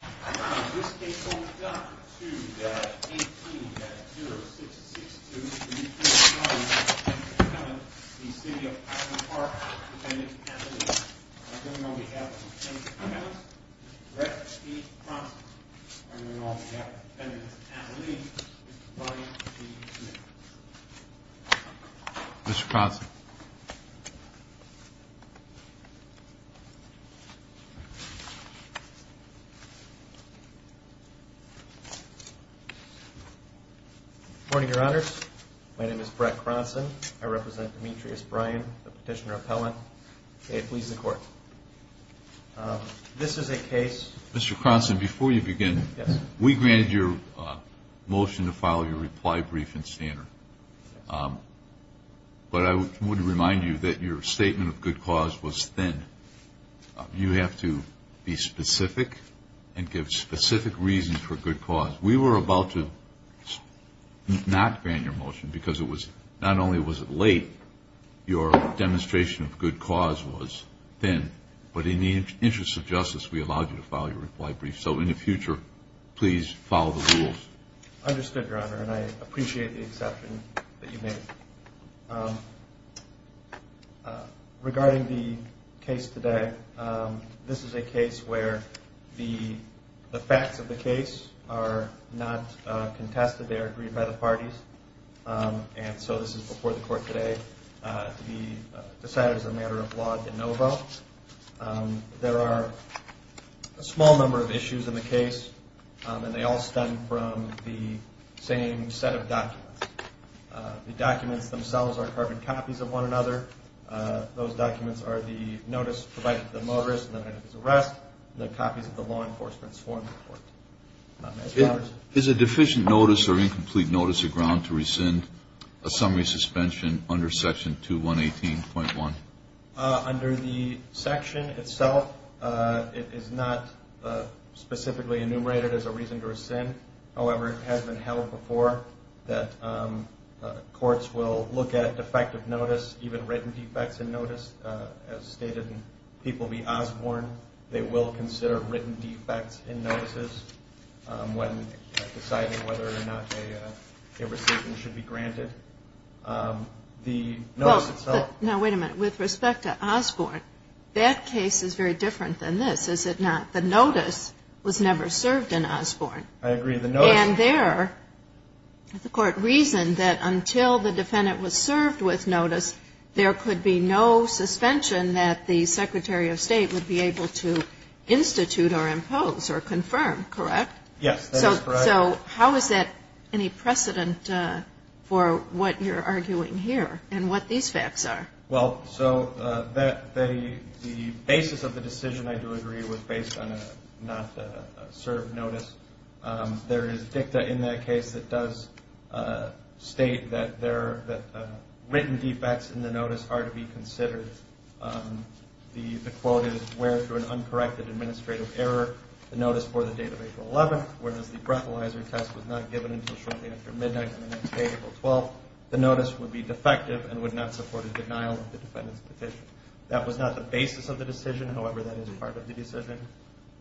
This case holds up to the 18-0662-339-107, the City of Highland Park Defendant's Association. I turn it on behalf of the Defendant's Association to direct the process. I turn it on behalf of the Defendant's Association to provide the evidence. Good morning, Your Honors. My name is Brett Cronson. I represent Demetrius Bryan, the Petitioner Appellant. May it please the Court. This is a case... Mr. Cronson, before you begin... Yes, sir. We granted your motion to file your reply brief and standard. But I want to remind you that your statement of good cause was thin. You have to be specific and give specific reasons for good cause. We were about to not grant your motion because it was... Not only was it late, your demonstration of good cause was thin. But in the interest of justice, we allowed you to file your reply brief. So in the future, please follow the rules. Understood, Your Honor, and I appreciate the exception that you made. Regarding the case today, this is a case where the facts of the case are not contested. They are agreed by the parties. And so this is before the Court today to be decided as a matter of law de novo. There are a small number of issues in the case, and they all stem from the same set of documents. The documents themselves are carbon copies of one another. Those documents are the notice provided to the motorist on the night of his arrest, and the copies of the law enforcement's form to the Court. Is a deficient notice or incomplete notice a ground to rescind a summary suspension under Section 218.1? Under the section itself, it is not specifically enumerated as a reason to rescind. However, it has been held before that courts will look at defective notice, even written defects in notice, as stated in People v. Osborne. They will consider written defects in notices when deciding whether or not a rescission should be granted. Now, wait a minute. With respect to Osborne, that case is very different than this, is it not? The notice was never served in Osborne. I agree with the notice. And there, the Court reasoned that until the defendant was served with notice, there could be no suspension that the Secretary of State would be able to institute or impose or confirm, correct? Yes, that is correct. So how is that any precedent for what you're arguing here and what these facts are? Well, so the basis of the decision, I do agree, was based on a not served notice. There is dicta in that case that does state that written defects in the notice are to be considered. The quote is, where, through an uncorrected administrative error, the notice for the date of April 11th, whereas the breathalyzer test was not given until shortly after midnight on the next day, April 12th, the notice would be defective and would not support a denial of the defendant's petition. That was not the basis of the decision. However, that is part of the decision.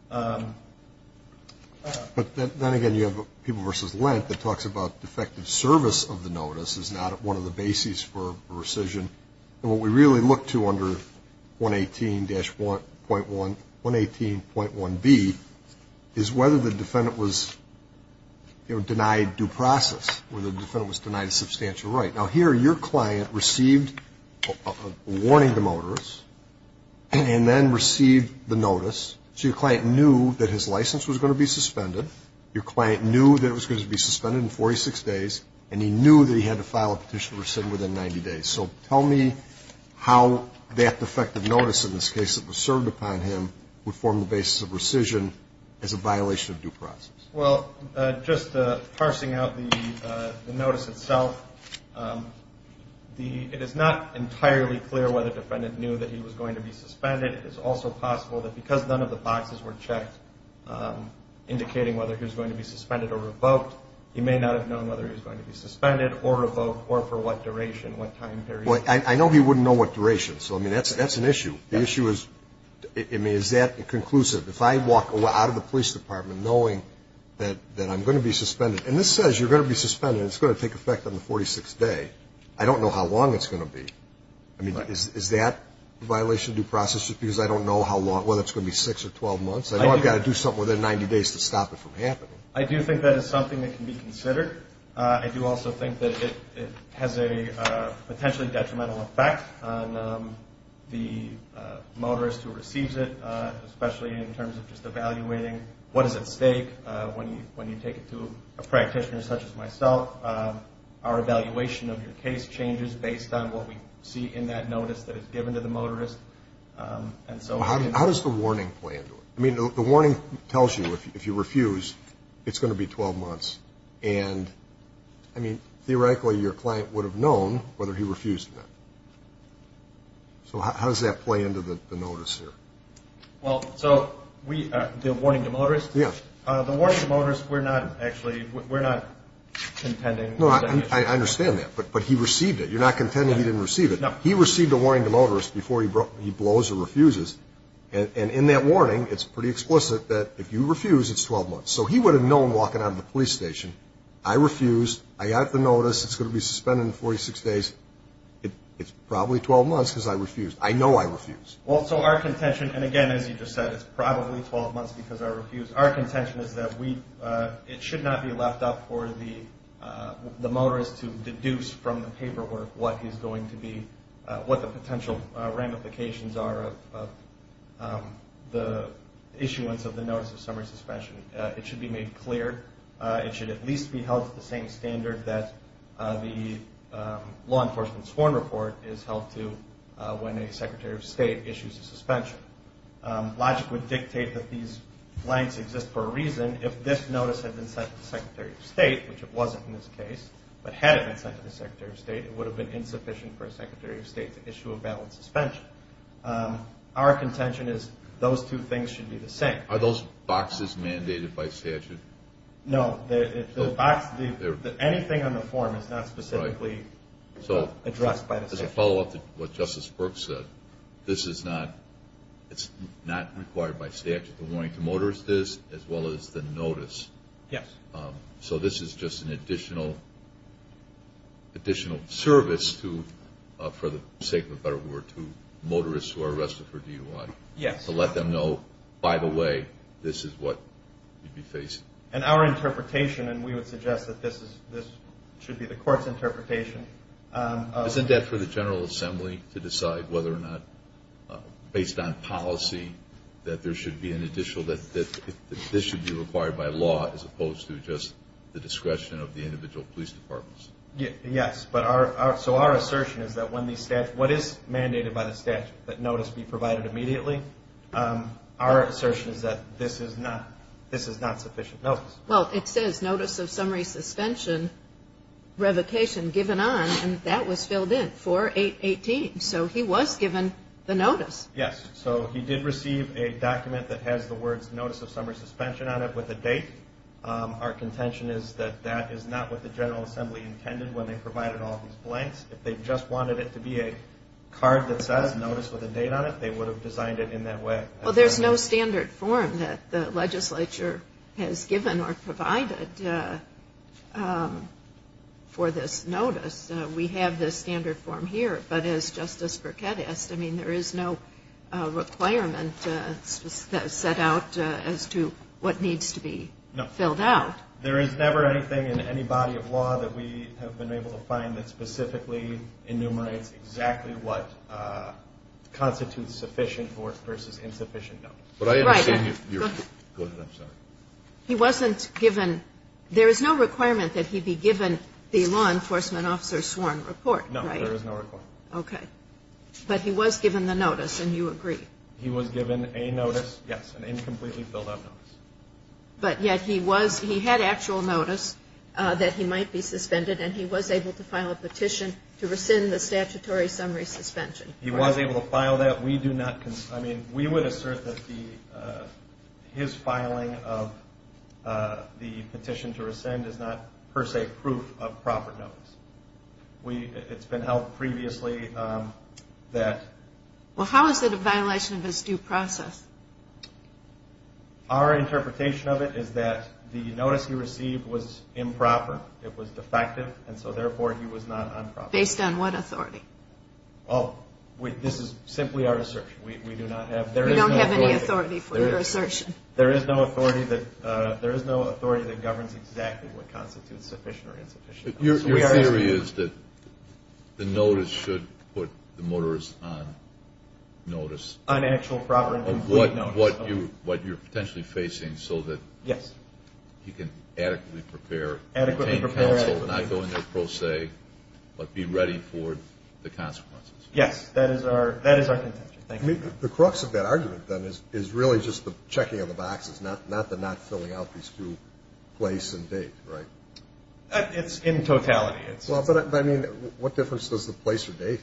But then again, you have People v. Lent that talks about defective service of the notice is not one of the bases for rescission. And what we really look to under 118.1B is whether the defendant was denied due process, whether the defendant was denied a substantial right. Now, here your client received a warning to motorists and then received the notice. So your client knew that his license was going to be suspended. Your client knew that it was going to be suspended in 46 days, and he knew that he had to file a petition to rescind within 90 days. So tell me how that defective notice in this case that was served upon him would form the basis of rescission as a violation of due process. Well, just parsing out the notice itself, it is not entirely clear whether the defendant knew that he was going to be suspended. It is also possible that because none of the boxes were checked indicating whether he was going to be suspended or revoked, he may not have known whether he was going to be suspended or revoked or for what duration, what time period. Well, I know he wouldn't know what duration. So, I mean, that's an issue. The issue is, I mean, is that conclusive? If I walk out of the police department knowing that I'm going to be suspended, and this says you're going to be suspended and it's going to take effect on the 46th day, I don't know how long it's going to be. I mean, is that a violation of due process just because I don't know how long, whether it's going to be 6 or 12 months? I know I've got to do something within 90 days to stop it from happening. I do think that is something that can be considered. I do also think that it has a potentially detrimental effect on the motorist who receives it, especially in terms of just evaluating what is at stake when you take it to a practitioner such as myself. Our evaluation of your case changes based on what we see in that notice that is given to the motorist. How does the warning play into it? I mean, the warning tells you if you refuse, it's going to be 12 months. And, I mean, theoretically, your client would have known whether he refused or not. So how does that play into the notice here? Well, so the warning to motorists? Yeah. The warning to motorists, we're not actually contending. No, I understand that, but he received it. You're not contending he didn't receive it. No. He received a warning to motorists before he blows or refuses, and in that warning, it's pretty explicit that if you refuse, it's 12 months. So he would have known walking out of the police station, I refused, I got the notice, it's going to be suspended in 46 days, it's probably 12 months because I refused. I know I refused. Well, so our contention, and again, as you just said, it's probably 12 months because I refused. Our contention is that it should not be left up for the motorist to deduce from the paperwork what the potential ramifications are of the issuance of the Notice of Summary Suspension. It should be made clear. It should at least be held to the same standard that the law enforcement sworn report is held to when a Secretary of State issues a suspension. Logic would dictate that these blanks exist for a reason. If this notice had been sent to the Secretary of State, which it wasn't in this case, but had it been sent to the Secretary of State, it would have been insufficient for a Secretary of State to issue a valid suspension. Our contention is those two things should be the same. Are those boxes mandated by statute? No, anything on the form is not specifically addressed by the statute. As a follow-up to what Justice Brooks said, this is not required by statute. The warning to motorists is, as well as the notice. Yes. So this is just an additional service to, for the sake of a better word, to motorists who are arrested for DUI. Yes. To let them know, by the way, this is what you'd be facing. And our interpretation, and we would suggest that this should be the court's interpretation. Isn't that for the General Assembly to decide whether or not, based on policy, that there should be an additional, that this should be required by law, as opposed to just the discretion of the individual police departments? Yes. So our assertion is that when the statute, what is mandated by the statute, that notice be provided immediately. Our assertion is that this is not sufficient notice. Well, it says notice of summary suspension, revocation given on, and that was filled in for 818. So he was given the notice. Yes. So he did receive a document that has the words notice of summary suspension on it with a date. Our contention is that that is not what the General Assembly intended when they provided all these blanks. If they just wanted it to be a card that says notice with a date on it, they would have designed it in that way. Well, there's no standard form that the legislature has given or provided for this notice. We have this standard form here. But as Justice Burkett asked, I mean, there is no requirement set out as to what needs to be filled out. No. There is never anything in any body of law that we have been able to find that specifically enumerates exactly what constitutes sufficient versus insufficient notice. Right. Go ahead. I'm sorry. He wasn't given, there is no requirement that he be given the law enforcement officer sworn report, right? No, there is no requirement. Okay. But he was given the notice, and you agree? He was given a notice, yes, an incompletely filled out notice. But yet he was, he had actual notice that he might be suspended, and he was able to file a petition to rescind the statutory summary suspension. He was able to file that. We do not, I mean, we would assert that his filing of the petition to rescind is not per se proof of proper notice. It's been held previously that. Well, how is it a violation of his due process? Our interpretation of it is that the notice he received was improper, it was defective, and so therefore he was not on proper notice. Based on what authority? Well, this is simply our assertion. We do not have, there is no authority. You don't have any authority for your assertion. There is no authority that governs exactly what constitutes sufficient or insufficient notice. Your theory is that the notice should put the motorist on notice. On actual proper and complete notice. What you're potentially facing so that he can adequately prepare, obtain counsel and not go in there per se, but be ready for the consequences. Yes, that is our contention. The crux of that argument, then, is really just the checking of the boxes, not the not filling out these two place and date, right? It's in totality. But, I mean, what difference does the place or date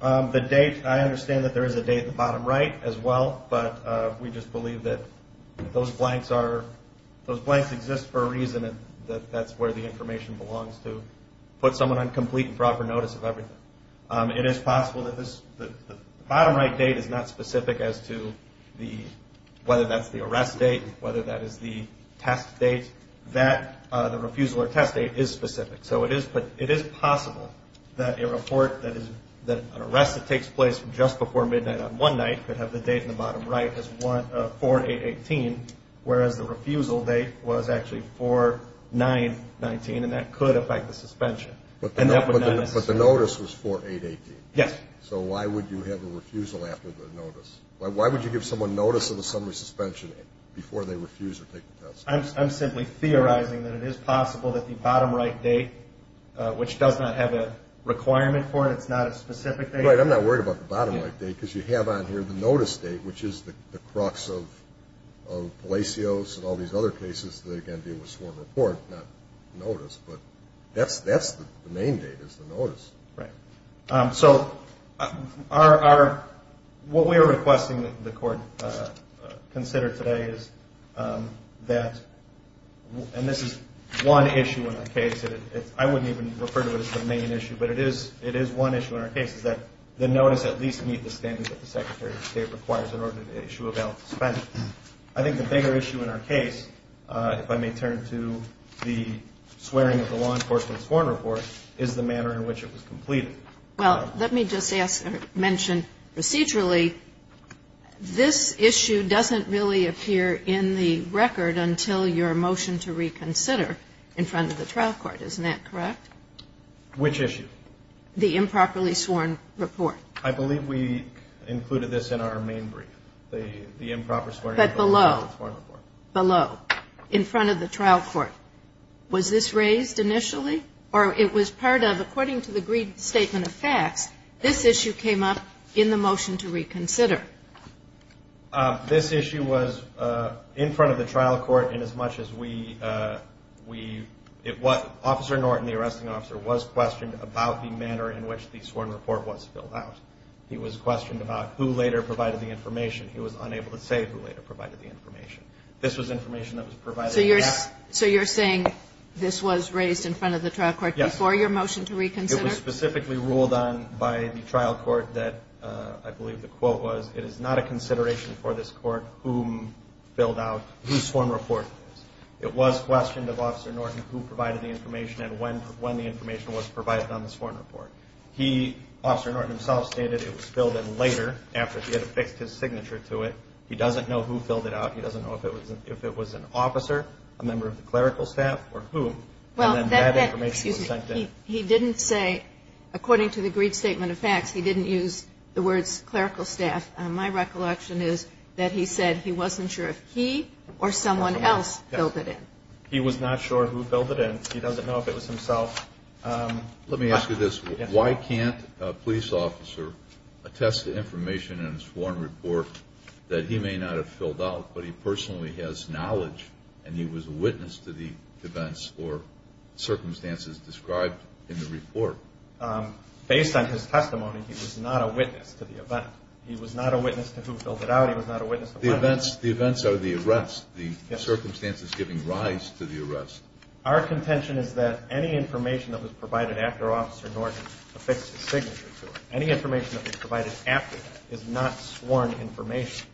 have? The date, I understand that there is a date at the bottom right as well, but we just believe that those blanks exist for a reason and that that's where the information belongs to put someone on complete and proper notice of everything. It is possible that the bottom right date is not specific as to whether that's the arrest date, whether that is the test date, that the refusal or test date is specific. So it is possible that a report that is an arrest that takes place just before midnight on one night could have the date in the bottom right as 4-8-18, whereas the refusal date was actually 4-9-19, and that could affect the suspension. But the notice was 4-8-18. Yes. So why would you have a refusal after the notice? Why would you give someone notice of a summary suspension before they refuse or take the test? I'm simply theorizing that it is possible that the bottom right date, which does not have a requirement for it, it's not a specific date. Right, I'm not worried about the bottom right date because you have on here the notice date, which is the crux of Palacios and all these other cases that, again, deal with sworn report, not notice, but that's the main date is the notice. Right. So what we are requesting the court consider today is that, and this is one issue in our case, I wouldn't even refer to it as the main issue, but it is one issue in our case, is that the notice at least meet the standards that the Secretary of State requires in order to issue a bail suspension. I think the bigger issue in our case, if I may turn to the swearing of the law enforcement's sworn report, is the manner in which it was completed. Well, let me just mention procedurally, this issue doesn't really appear in the record until your motion to reconsider in front of the trial court. Isn't that correct? Which issue? The improperly sworn report. I believe we included this in our main brief, the improper sworn report. But below, below, in front of the trial court, was this raised initially or it was part of, according to the agreed statement of facts, this issue came up in the motion to reconsider? This issue was in front of the trial court in as much as we, Officer Norton, the arresting officer, was questioned about the manner in which the sworn report was filled out. He was questioned about who later provided the information. He was unable to say who later provided the information. This was information that was provided. So you're saying this was raised in front of the trial court before your motion to reconsider? It was specifically ruled on by the trial court that, I believe the quote was, it is not a consideration for this court whom filled out whose sworn report it was. It was questioned of Officer Norton who provided the information and when the information was provided on the sworn report. He, Officer Norton himself, stated it was filled in later, after he had affixed his signature to it. He doesn't know who filled it out. He doesn't know if it was an officer, a member of the clerical staff, or whom. And then that information was sent in. He didn't say, according to the agreed statement of facts, he didn't use the words clerical staff. My recollection is that he said he wasn't sure if he or someone else filled it in. He was not sure who filled it in. He doesn't know if it was himself. Let me ask you this. Why can't a police officer attest to information in his sworn report that he may not have filled out, but he personally has knowledge and he was a witness to the events or circumstances described in the report? Based on his testimony, he was not a witness to the event. He was not a witness to who filled it out. He was not a witness to when it happened. The events are the arrests, the circumstances giving rise to the arrests. Our contention is that any information that was provided after Officer Norton affixed his signature to it, any information that was provided after that is not sworn information.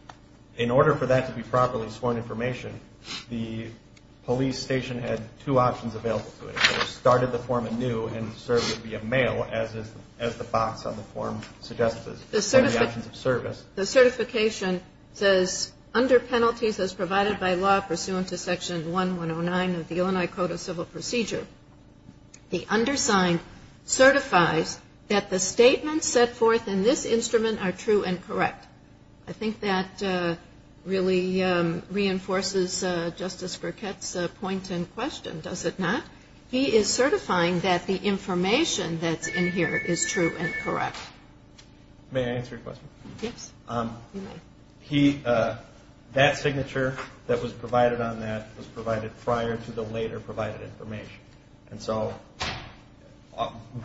In order for that to be properly sworn information, the police station had two options available to it. They started the form anew and served it via mail, as the box on the form suggests, the options of service. The certification says, under penalties as provided by law pursuant to Section 1109 of the Illinois Code of Civil Procedure, the undersigned certifies that the statements set forth in this instrument are true and correct. I think that really reinforces Justice Burkett's point in question, does it not? He is certifying that the information that's in here is true and correct. May I answer your question? Yes. That signature that was provided on that was provided prior to the later provided information. And so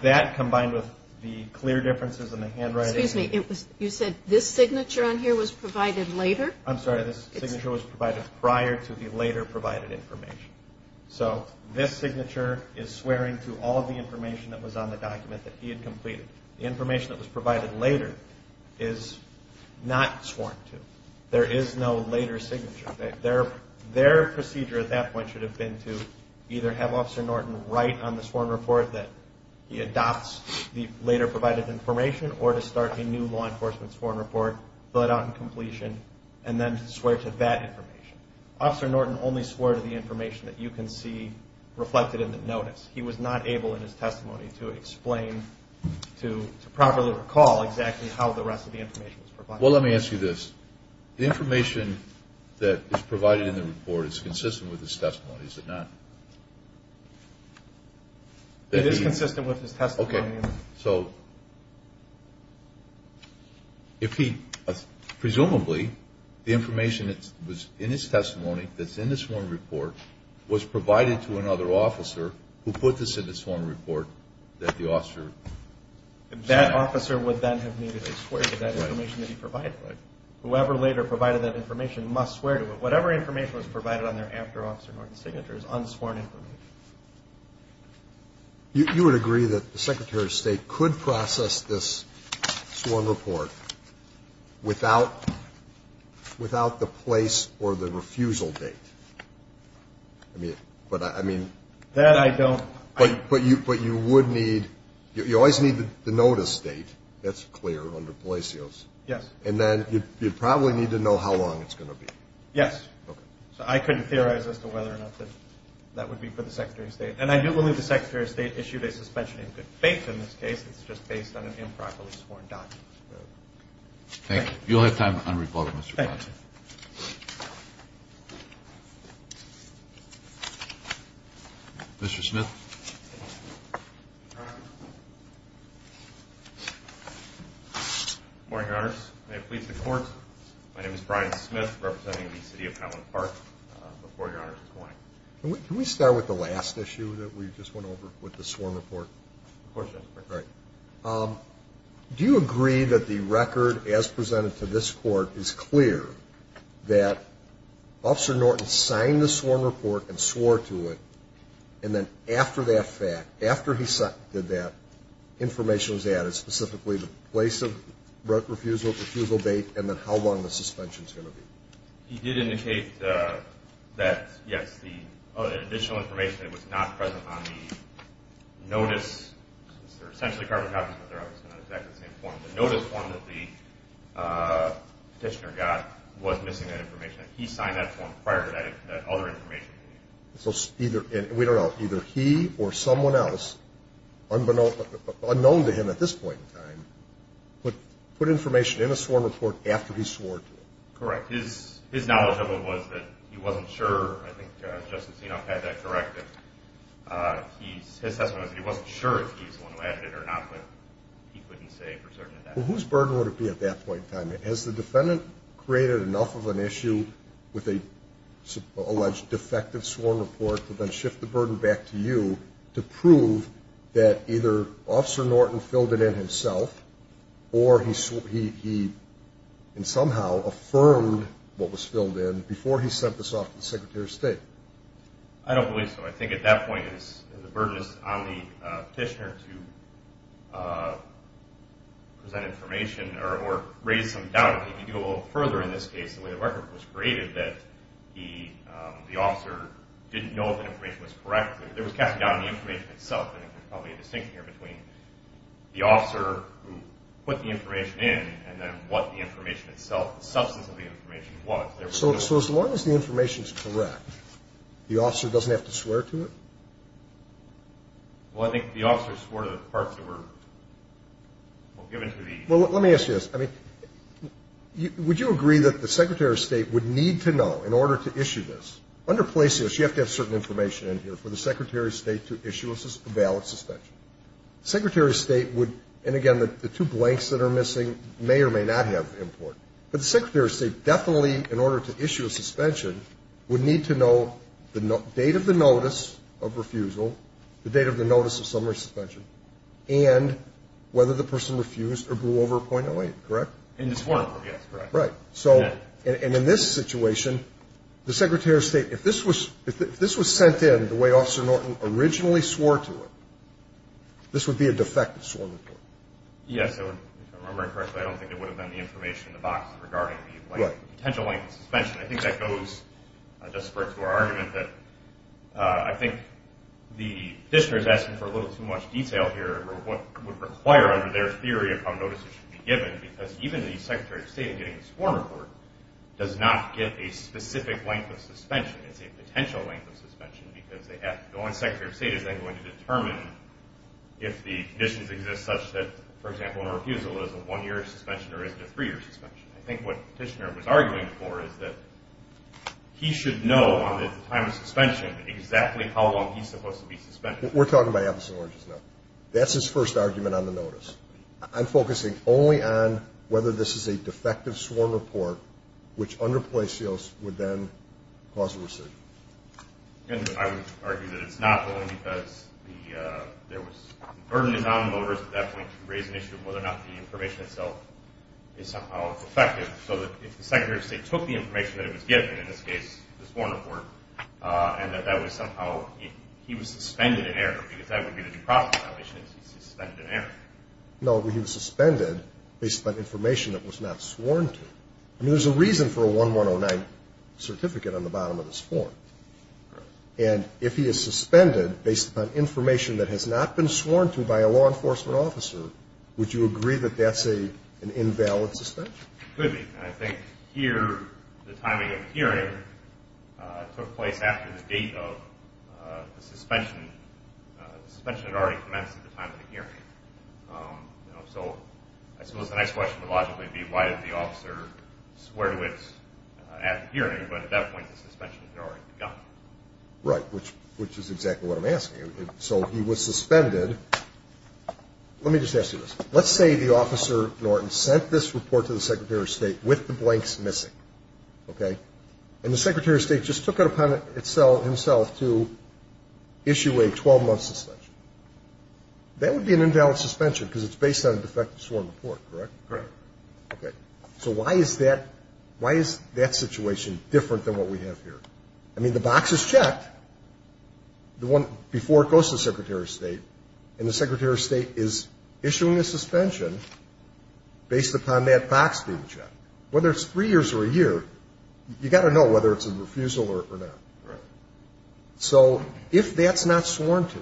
that combined with the clear differences in the handwriting. Excuse me. You said this signature on here was provided later? I'm sorry. This signature was provided prior to the later provided information. So this signature is swearing to all of the information that was on the document that he had completed. The information that was provided later is not sworn to. There is no later signature. Their procedure at that point should have been to either have Officer Norton write on the sworn report that he adopts the later provided information, or to start a new law enforcement sworn report, fill it out in completion, and then swear to that information. Officer Norton only swore to the information that you can see reflected in the notice. He was not able in his testimony to explain, to properly recall exactly how the rest of the information was provided. Well, let me ask you this. The information that is provided in the report is consistent with his testimony, is it not? It is consistent with his testimony. Okay. So if he presumably, the information that was in his testimony that's in the sworn report was provided to another officer who put this in the sworn report that the officer. That officer would then have needed to swear to that information that he provided. Whoever later provided that information must swear to it. Whatever information was provided on their after Officer Norton's signature is unsworn information. You would agree that the Secretary of State could process this sworn report without the place or the refusal date? I mean, but I mean. That I don't. But you would need. You always need the notice date. That's clear under Palacios. Yes. And then you'd probably need to know how long it's going to be. Yes. Okay. So I couldn't theorize as to whether or not that would be for the Secretary of State. And I do believe the Secretary of State issued a suspension in good faith in this case. It's just based on an improperly sworn document. Thank you. You'll have time on report, Mr. Ponson. Thank you. Mr. Smith. Good morning, Your Honors. May it please the Court, my name is Brian Smith representing the City of Petaluma Park. Before Your Honors is going. Can we start with the last issue that we just went over with the sworn report? Of course, Justice Breyer. All right. Do you agree that the record, as presented to this Court, is clear that Officer Norton signed the sworn report and swore to it, and then after that fact, after he did that, information was added, specifically the place of refusal, refusal date, and then how long the suspension is going to be. He did indicate that, yes, the additional information was not present on the notice. They're essentially carbon copies, but they're obviously not exactly the same form. The notice form that the petitioner got was missing that information. He signed that form prior to that other information. We don't know. Either he or someone else, unknown to him at this point in time, put information in a sworn report after he swore to it. Correct. His knowledge of it was that he wasn't sure. I think Justice Enoff had that corrected. His assessment was that he wasn't sure if he was the one who added it or not, but he couldn't say for certain at that point. Well, whose burden would it be at that point in time? Has the defendant created enough of an issue with an alleged defective sworn report to then shift the burden back to you to prove that either Officer Norton filled it in himself or he somehow affirmed what was filled in before he sent this off to the Secretary of State? I don't believe so. I think at that point the burden is on the petitioner to present information or raise some doubt. If you go a little further in this case, the way the record was created, that the officer didn't know if the information was correct. There was casting doubt on the information itself, and there's probably a distinction here between the officer who put the information in and then what the information itself, the substance of the information was. So as long as the information is correct, the officer doesn't have to swear to it? Well, I think the officer swore to the parts that were given to the – Well, let me ask you this. I mean, would you agree that the Secretary of State would need to know in order to issue this? Under placios, you have to have certain information in here for the Secretary of State to issue a valid suspension. The Secretary of State would – and, again, the two blanks that are missing may or may not have import. But the Secretary of State definitely, in order to issue a suspension, would need to know the date of the notice of refusal, the date of the notice of summary suspension, and whether the person refused or blew over a .08, correct? In the sworn report, yes, correct. Right. And in this situation, the Secretary of State, if this was sent in the way Officer Norton originally swore to it, this would be a defective sworn report. Yes, so if I'm remembering correctly, I don't think there would have been the information in the boxes regarding the potential length of suspension. I think that goes, just spurred to our argument, that I think the petitioner is asking for a little too much detail here over what would require under their theory of how notices should be given because even the Secretary of State in getting the sworn report does not get a specific length of suspension. It's a potential length of suspension because they have – the only Secretary of State is then going to determine if the conditions exist such that, for example, a refusal is a one-year suspension or is it a three-year suspension. I think what the petitioner was arguing for is that he should know, on the time of suspension, exactly how long he's supposed to be suspended. We're talking about Abelson Orange's note. That's his first argument on the notice. I'm focusing only on whether this is a defective sworn report, which under place seals would then cause a rescission. I would argue that it's not, but only because there was a burden on the voters at that point to raise an issue of whether or not the information itself is somehow defective so that if the Secretary of State took the information that it was given, in this case the sworn report, and that that was somehow – he was suspended in error because that would be the due process violation is he's suspended in error. No, he was suspended based on information that was not sworn to. I mean, there's a reason for a 1109 certificate on the bottom of this form. And if he is suspended based upon information that has not been sworn to by a law enforcement officer, would you agree that that's an invalid suspension? It could be. I think here the timing of the hearing took place after the date of the suspension. The suspension had already commenced at the time of the hearing. So I suppose the next question would logically be why did the officer swear to it at the hearing, but at that point the suspension had already begun. Right, which is exactly what I'm asking. So he was suspended. Let me just ask you this. Let's say the Officer Norton sent this report to the Secretary of State with the blanks missing, okay? And the Secretary of State just took it upon himself to issue a 12-month suspension. That would be an invalid suspension because it's based on a defective sworn report, correct? Correct. Okay. So why is that situation different than what we have here? I mean, the box is checked before it goes to the Secretary of State, and the Secretary of State is issuing a suspension based upon that box being checked. Whether it's three years or a year, you've got to know whether it's a refusal or not. Right. So if that's not sworn to,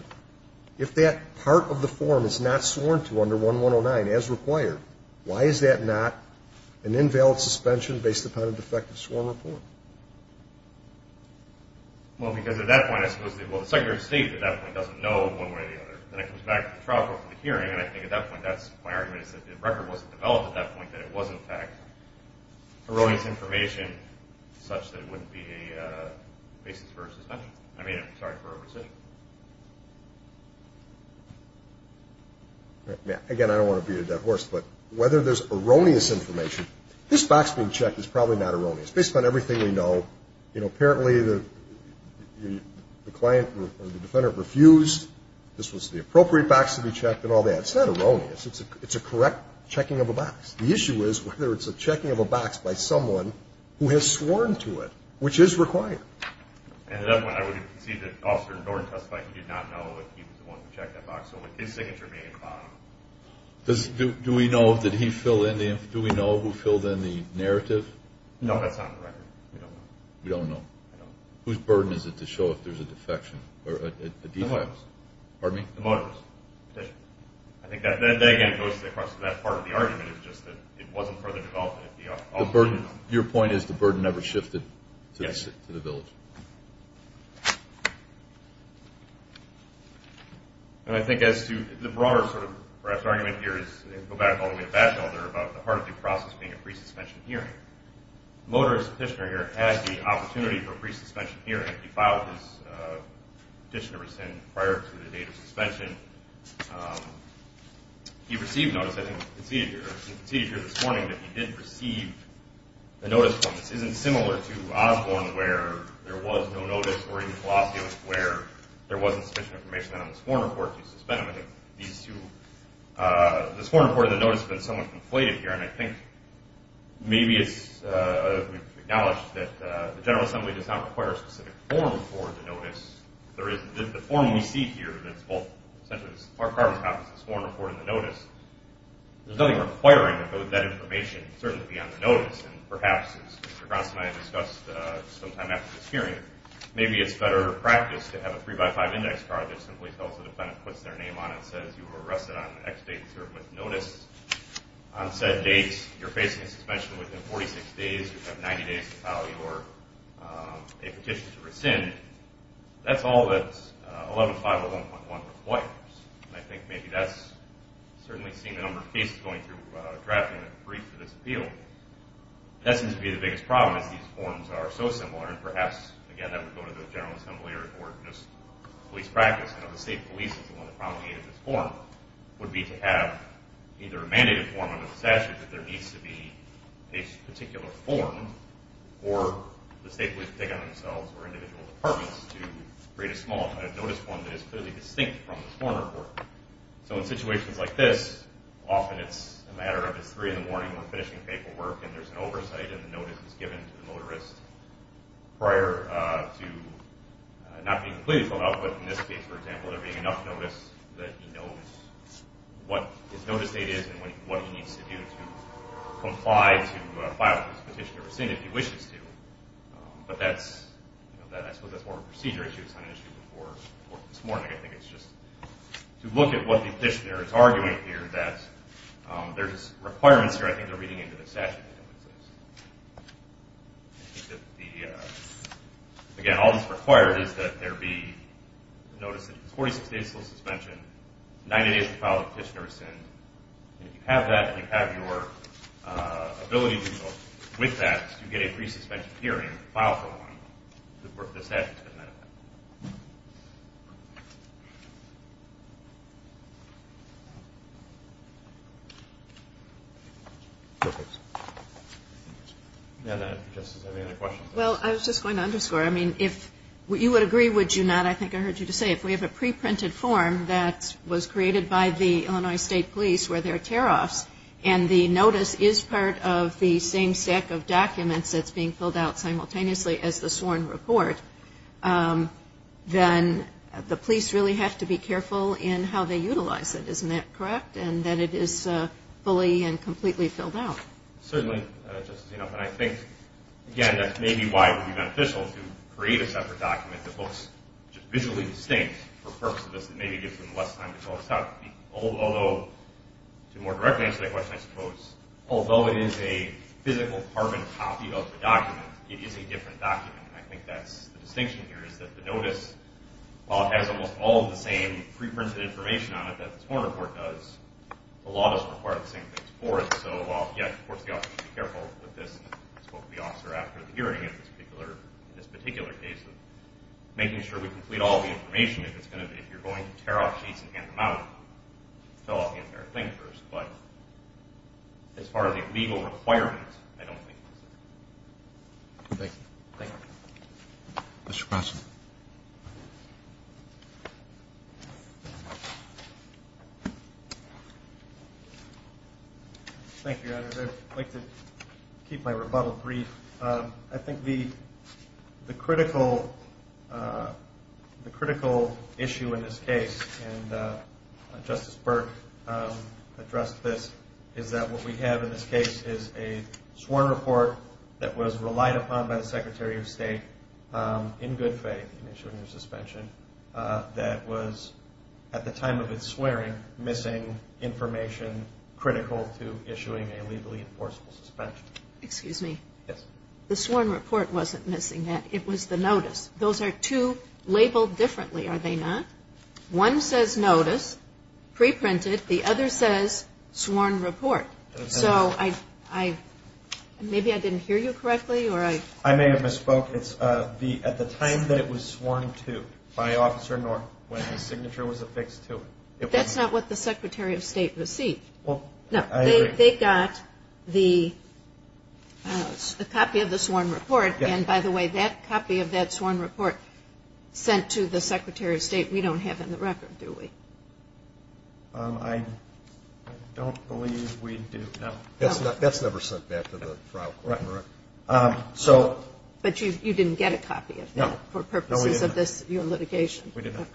if that part of the form is not sworn to under 1109 as required, why is that not an invalid suspension based upon a defective sworn report? Well, because at that point I suppose the Secretary of State at that point doesn't know one way or the other. Then it comes back to the trial court for the hearing, and I think at that point my argument is that the record wasn't developed at that point, that it was, in fact, erroneous information such that it wouldn't be a basis for a suspension. I mean, I'm sorry for overstatement. Again, I don't want to beat a dead horse, but whether there's erroneous information, this box being checked is probably not erroneous. Based on everything we know, you know, apparently the client or the defendant refused. This was the appropriate box to be checked and all that. It's not erroneous. It's a correct checking of a box. The issue is whether it's a checking of a box by someone who has sworn to it, which is required. At that point, I would concede that Officer Norton testified he did not know that he was the one who checked that box, so his signature may have been found. Do we know who filled in the narrative? No, that's not in the record. We don't know. We don't know. Whose burden is it to show if there's a defection or a defect? The motorist's. Pardon me? The motorist's petition. I think that, again, goes across to that part of the argument, it's just that it wasn't further developed. Your point is the burden never shifted to the village? Yes. And I think as to the broader sort of perhaps argument here is to go back all the way to Batchelder about the heart of the process being a pre-suspension hearing. The motorist's petitioner here had the opportunity for a pre-suspension hearing. He filed his petitioner's sin prior to the date of suspension. He received notice, I think it was conceded here, it was conceded here this morning that he did receive a notice from us. This isn't similar to Osborne where there was no notice or even Palacios where there wasn't sufficient information on the sworn report to suspend him. I think these two, the sworn report and the notice have been somewhat conflated here, and I think maybe it's acknowledged that the General Assembly does not require a specific form for the notice. There is the form we see here that's essentially a carbon copy of the sworn report and the notice. There's nothing requiring that that information certainly be on the notice, and perhaps, as Mr. Gronson and I discussed sometime after this hearing, maybe it's better practice to have a three-by-five index card that simply tells the defendant what's their name on it and says you were arrested on X date and served with notice. On said date, you're facing suspension within 46 days. You have 90 days to file your petition to rescind. That's all that 11501.1 requires, and I think maybe that's certainly seen a number of cases going through drafting a brief for this appeal. That seems to be the biggest problem is these forms are so similar, and perhaps, again, that would go to the General Assembly or just police practice. You know, the state police is the one that promulgated this form, would be to have either a mandated form under the statute that there needs to be a particular form for the state police to take on themselves or individual departments to create a small kind of notice form that is clearly distinct from the form report. So in situations like this, often it's a matter of it's 3 in the morning, we're finishing paperwork, and there's an oversight, and the notice is given to the motorist prior to not being completely filled out. But in this case, for example, there being enough notice that he knows what his notice date is and what he needs to do to comply to file this petition to rescind if he wishes to. But I suppose that's more of a procedure issue. It's not an issue before this morning. I think it's just to look at what the petitioner is arguing here that there's requirements here. I think they're reading into the statute. Again, all that's required is that there be notice that it's 46 days until suspension, 90 days to file a petition to rescind. If you have that, and you have your ability to go with that, you get a pre-suspension hearing to file for one. The statute doesn't have that. Well, I was just going to underscore, I mean, if you would agree, would you not, I think I heard you say, if we have a pre-printed form that was created by the Illinois State Police where there are tear-offs and the notice is part of the same set of documents that's being filled out simultaneously as the sworn report, then the police really have to be careful in how they utilize it. Isn't that correct? And that it is fully and completely filled out. Certainly. And I think, again, that's maybe why it would be beneficial to create a separate document that looks just visually distinct for the purpose of this and maybe gives them less time to fill this out. Although, to more directly answer that question, I suppose, although it is a physical carbon copy of the document, it is a different document. I think that's the distinction here is that the notice, while it has almost all of the same pre-printed information on it that the sworn report does, the law doesn't require the same things for it. So, yes, of course, the officer should be careful with this. I spoke to the officer after the hearing in this particular case of making sure we complete all the information. If you're going to tear off sheets and hand them out, fill out the entire thing first. But as far as the legal requirements, I don't think this is. Thank you. Thank you. Mr. Croson. Thank you, Your Honor. I'd like to keep my rebuttal brief. I think the critical issue in this case, and Justice Burke addressed this, is that what we have in this case is a sworn report that was relied upon by the Secretary of State in good faith in issuing a suspension that was, at the time of its swearing, missing information critical to issuing a legally enforceable suspension. Excuse me. Yes. The sworn report wasn't missing that. It was the notice. Those are two labeled differently, are they not? One says notice, pre-printed. The other says sworn report. So maybe I didn't hear you correctly. I may have misspoke. It's at the time that it was sworn to by Officer North when his signature was affixed to it. That's not what the Secretary of State received. They got the copy of the sworn report. And, by the way, that copy of that sworn report sent to the Secretary of State we don't have in the record, do we? I don't believe we do, no. That's never sent back to the trial court. But you didn't get a copy of that for purposes of your litigation? We didn't.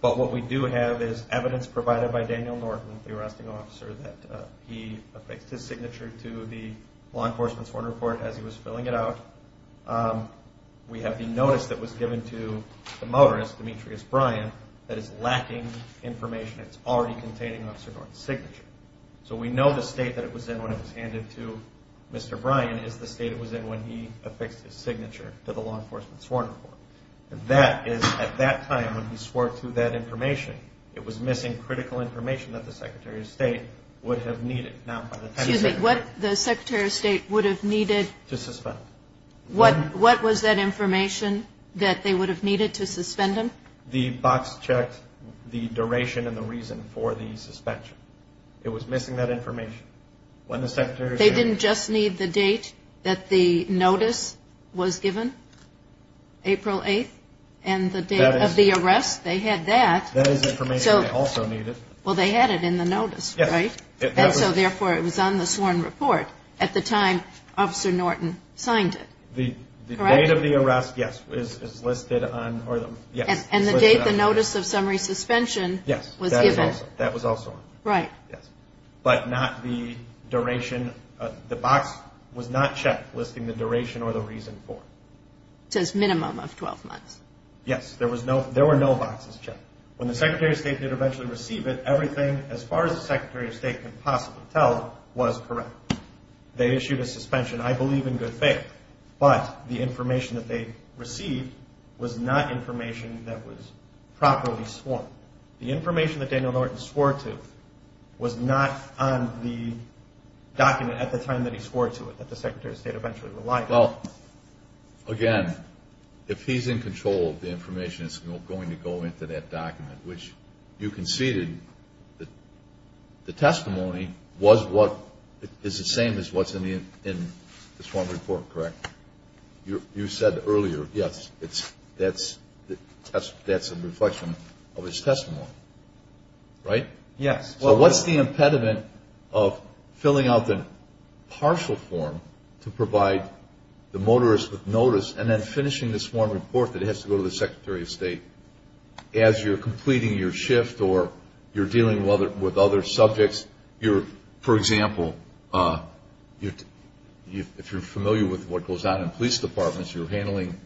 But what we do have is evidence provided by Daniel Norton, the arresting officer, that he affixed his signature to the law enforcement sworn report as he was filling it out. We have the notice that was given to the motorist, Demetrius Bryan, that is lacking information. It's already containing Officer North's signature. So we know the state that it was in when it was handed to Mr. Bryan is the state it was in when he affixed his signature to the law enforcement sworn report. That is at that time when he swore to that information. It was missing critical information that the Secretary of State would have needed. Excuse me. What the Secretary of State would have needed? To suspend him. What was that information that they would have needed to suspend him? The box checked the duration and the reason for the suspension. It was missing that information. They didn't just need the date that the notice was given? April 8th? And the date of the arrest? They had that. That is information they also needed. Well, they had it in the notice, right? And so, therefore, it was on the sworn report at the time Officer Norton signed it. The date of the arrest, yes, is listed on. And the date the notice of summary suspension was given? Yes, that was also on. Right. But not the duration. The box was not checked listing the duration or the reason for it. It says minimum of 12 months. Yes. There were no boxes checked. When the Secretary of State did eventually receive it, everything as far as the Secretary of State could possibly tell was correct. They issued a suspension, I believe, in good faith. But the information that they received was not information that was properly sworn. The information that Daniel Norton swore to was not on the document at the time that he swore to it that the Secretary of State eventually relied on. Well, again, if he's in control, the information is going to go into that document, which you conceded the testimony is the same as what's in the sworn report, correct? You said earlier, yes, that's a reflection of his testimony, right? Yes. So what's the impediment of filling out the partial form to provide the motorist with notice and then finishing the sworn report that has to go to the Secretary of State as you're completing your shift or you're dealing with other subjects? For example, if you're familiar with what goes on in police departments, you're handling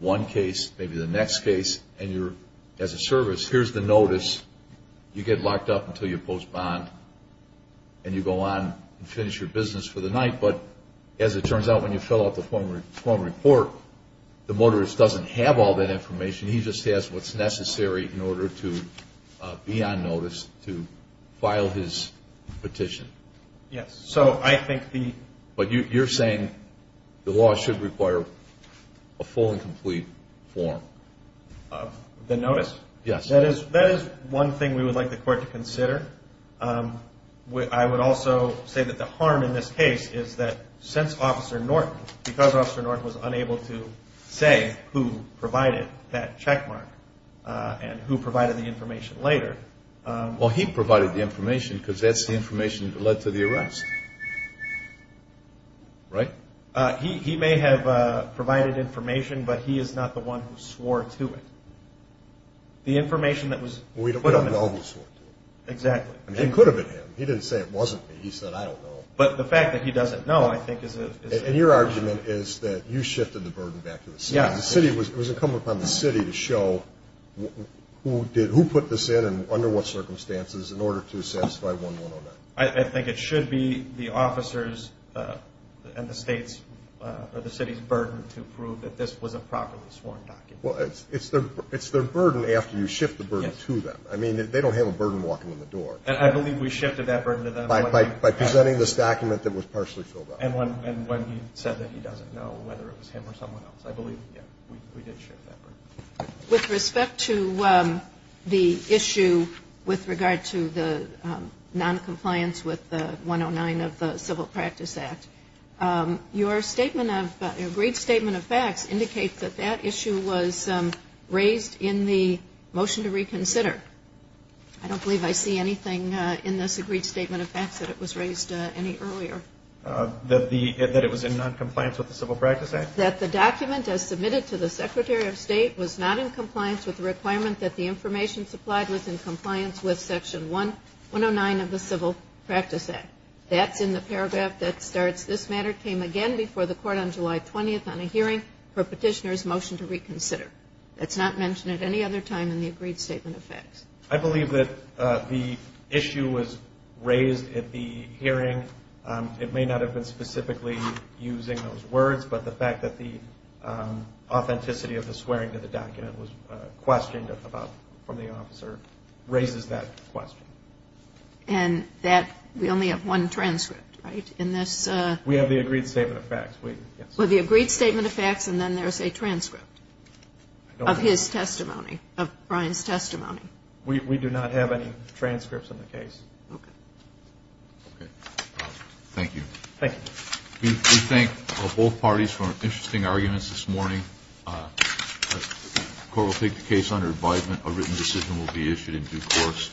one case, maybe the next case, and you're as a service, here's the notice. You get locked up until you post bond, and you go on and finish your business for the night. But as it turns out, when you fill out the form report, the motorist doesn't have all that information. He just has what's necessary in order to be on notice to file his petition. Yes. But you're saying the law should require a full and complete form? The notice. Yes. That is one thing we would like the court to consider. I would also say that the harm in this case is that since Officer Norton, because Officer Norton was unable to say who provided that checkmark and who provided the information later. Well, he provided the information because that's the information that led to the arrest, right? He may have provided information, but he is not the one who swore to it. The information that was put on him. We don't know who swore to it. Exactly. I mean, it could have been him. He didn't say it wasn't me. He said, I don't know. But the fact that he doesn't know, I think, is a... And your argument is that you shifted the burden back to the city. It was incumbent upon the city to show who put this in and under what circumstances in order to satisfy 1109. I think it should be the officer's and the state's or the city's burden to prove that this was a properly sworn document. Well, it's their burden after you shift the burden to them. I mean, they don't have a burden walking in the door. And I believe we shifted that burden to them. By presenting this document that was partially filled out. And when he said that he doesn't know whether it was him or someone else, I believe, yeah, we did shift that burden. With respect to the issue with regard to the noncompliance with 109 of the Civil Practice Act, your agreed statement of facts indicates that that issue was raised in the motion to reconsider. I don't believe I see anything in this agreed statement of facts that it was raised any earlier. That it was in noncompliance with the Civil Practice Act? That the document as submitted to the Secretary of State was not in compliance with the requirement that the information supplied was in compliance with Section 109 of the Civil Practice Act. That's in the paragraph that starts, this matter came again before the court on July 20th on a hearing for petitioner's motion to reconsider. That's not mentioned at any other time in the agreed statement of facts. I believe that the issue was raised at the hearing. It may not have been specifically using those words, but the fact that the authenticity of the swearing to the document was questioned about from the officer raises that question. And that, we only have one transcript, right? We have the agreed statement of facts. Well, the agreed statement of facts and then there's a transcript of his testimony, of Brian's testimony. We do not have any transcripts of the case. Okay. Okay. Thank you. Thank you. We thank both parties for interesting arguments this morning. The court will take the case under advisement. A written decision will be issued in due course.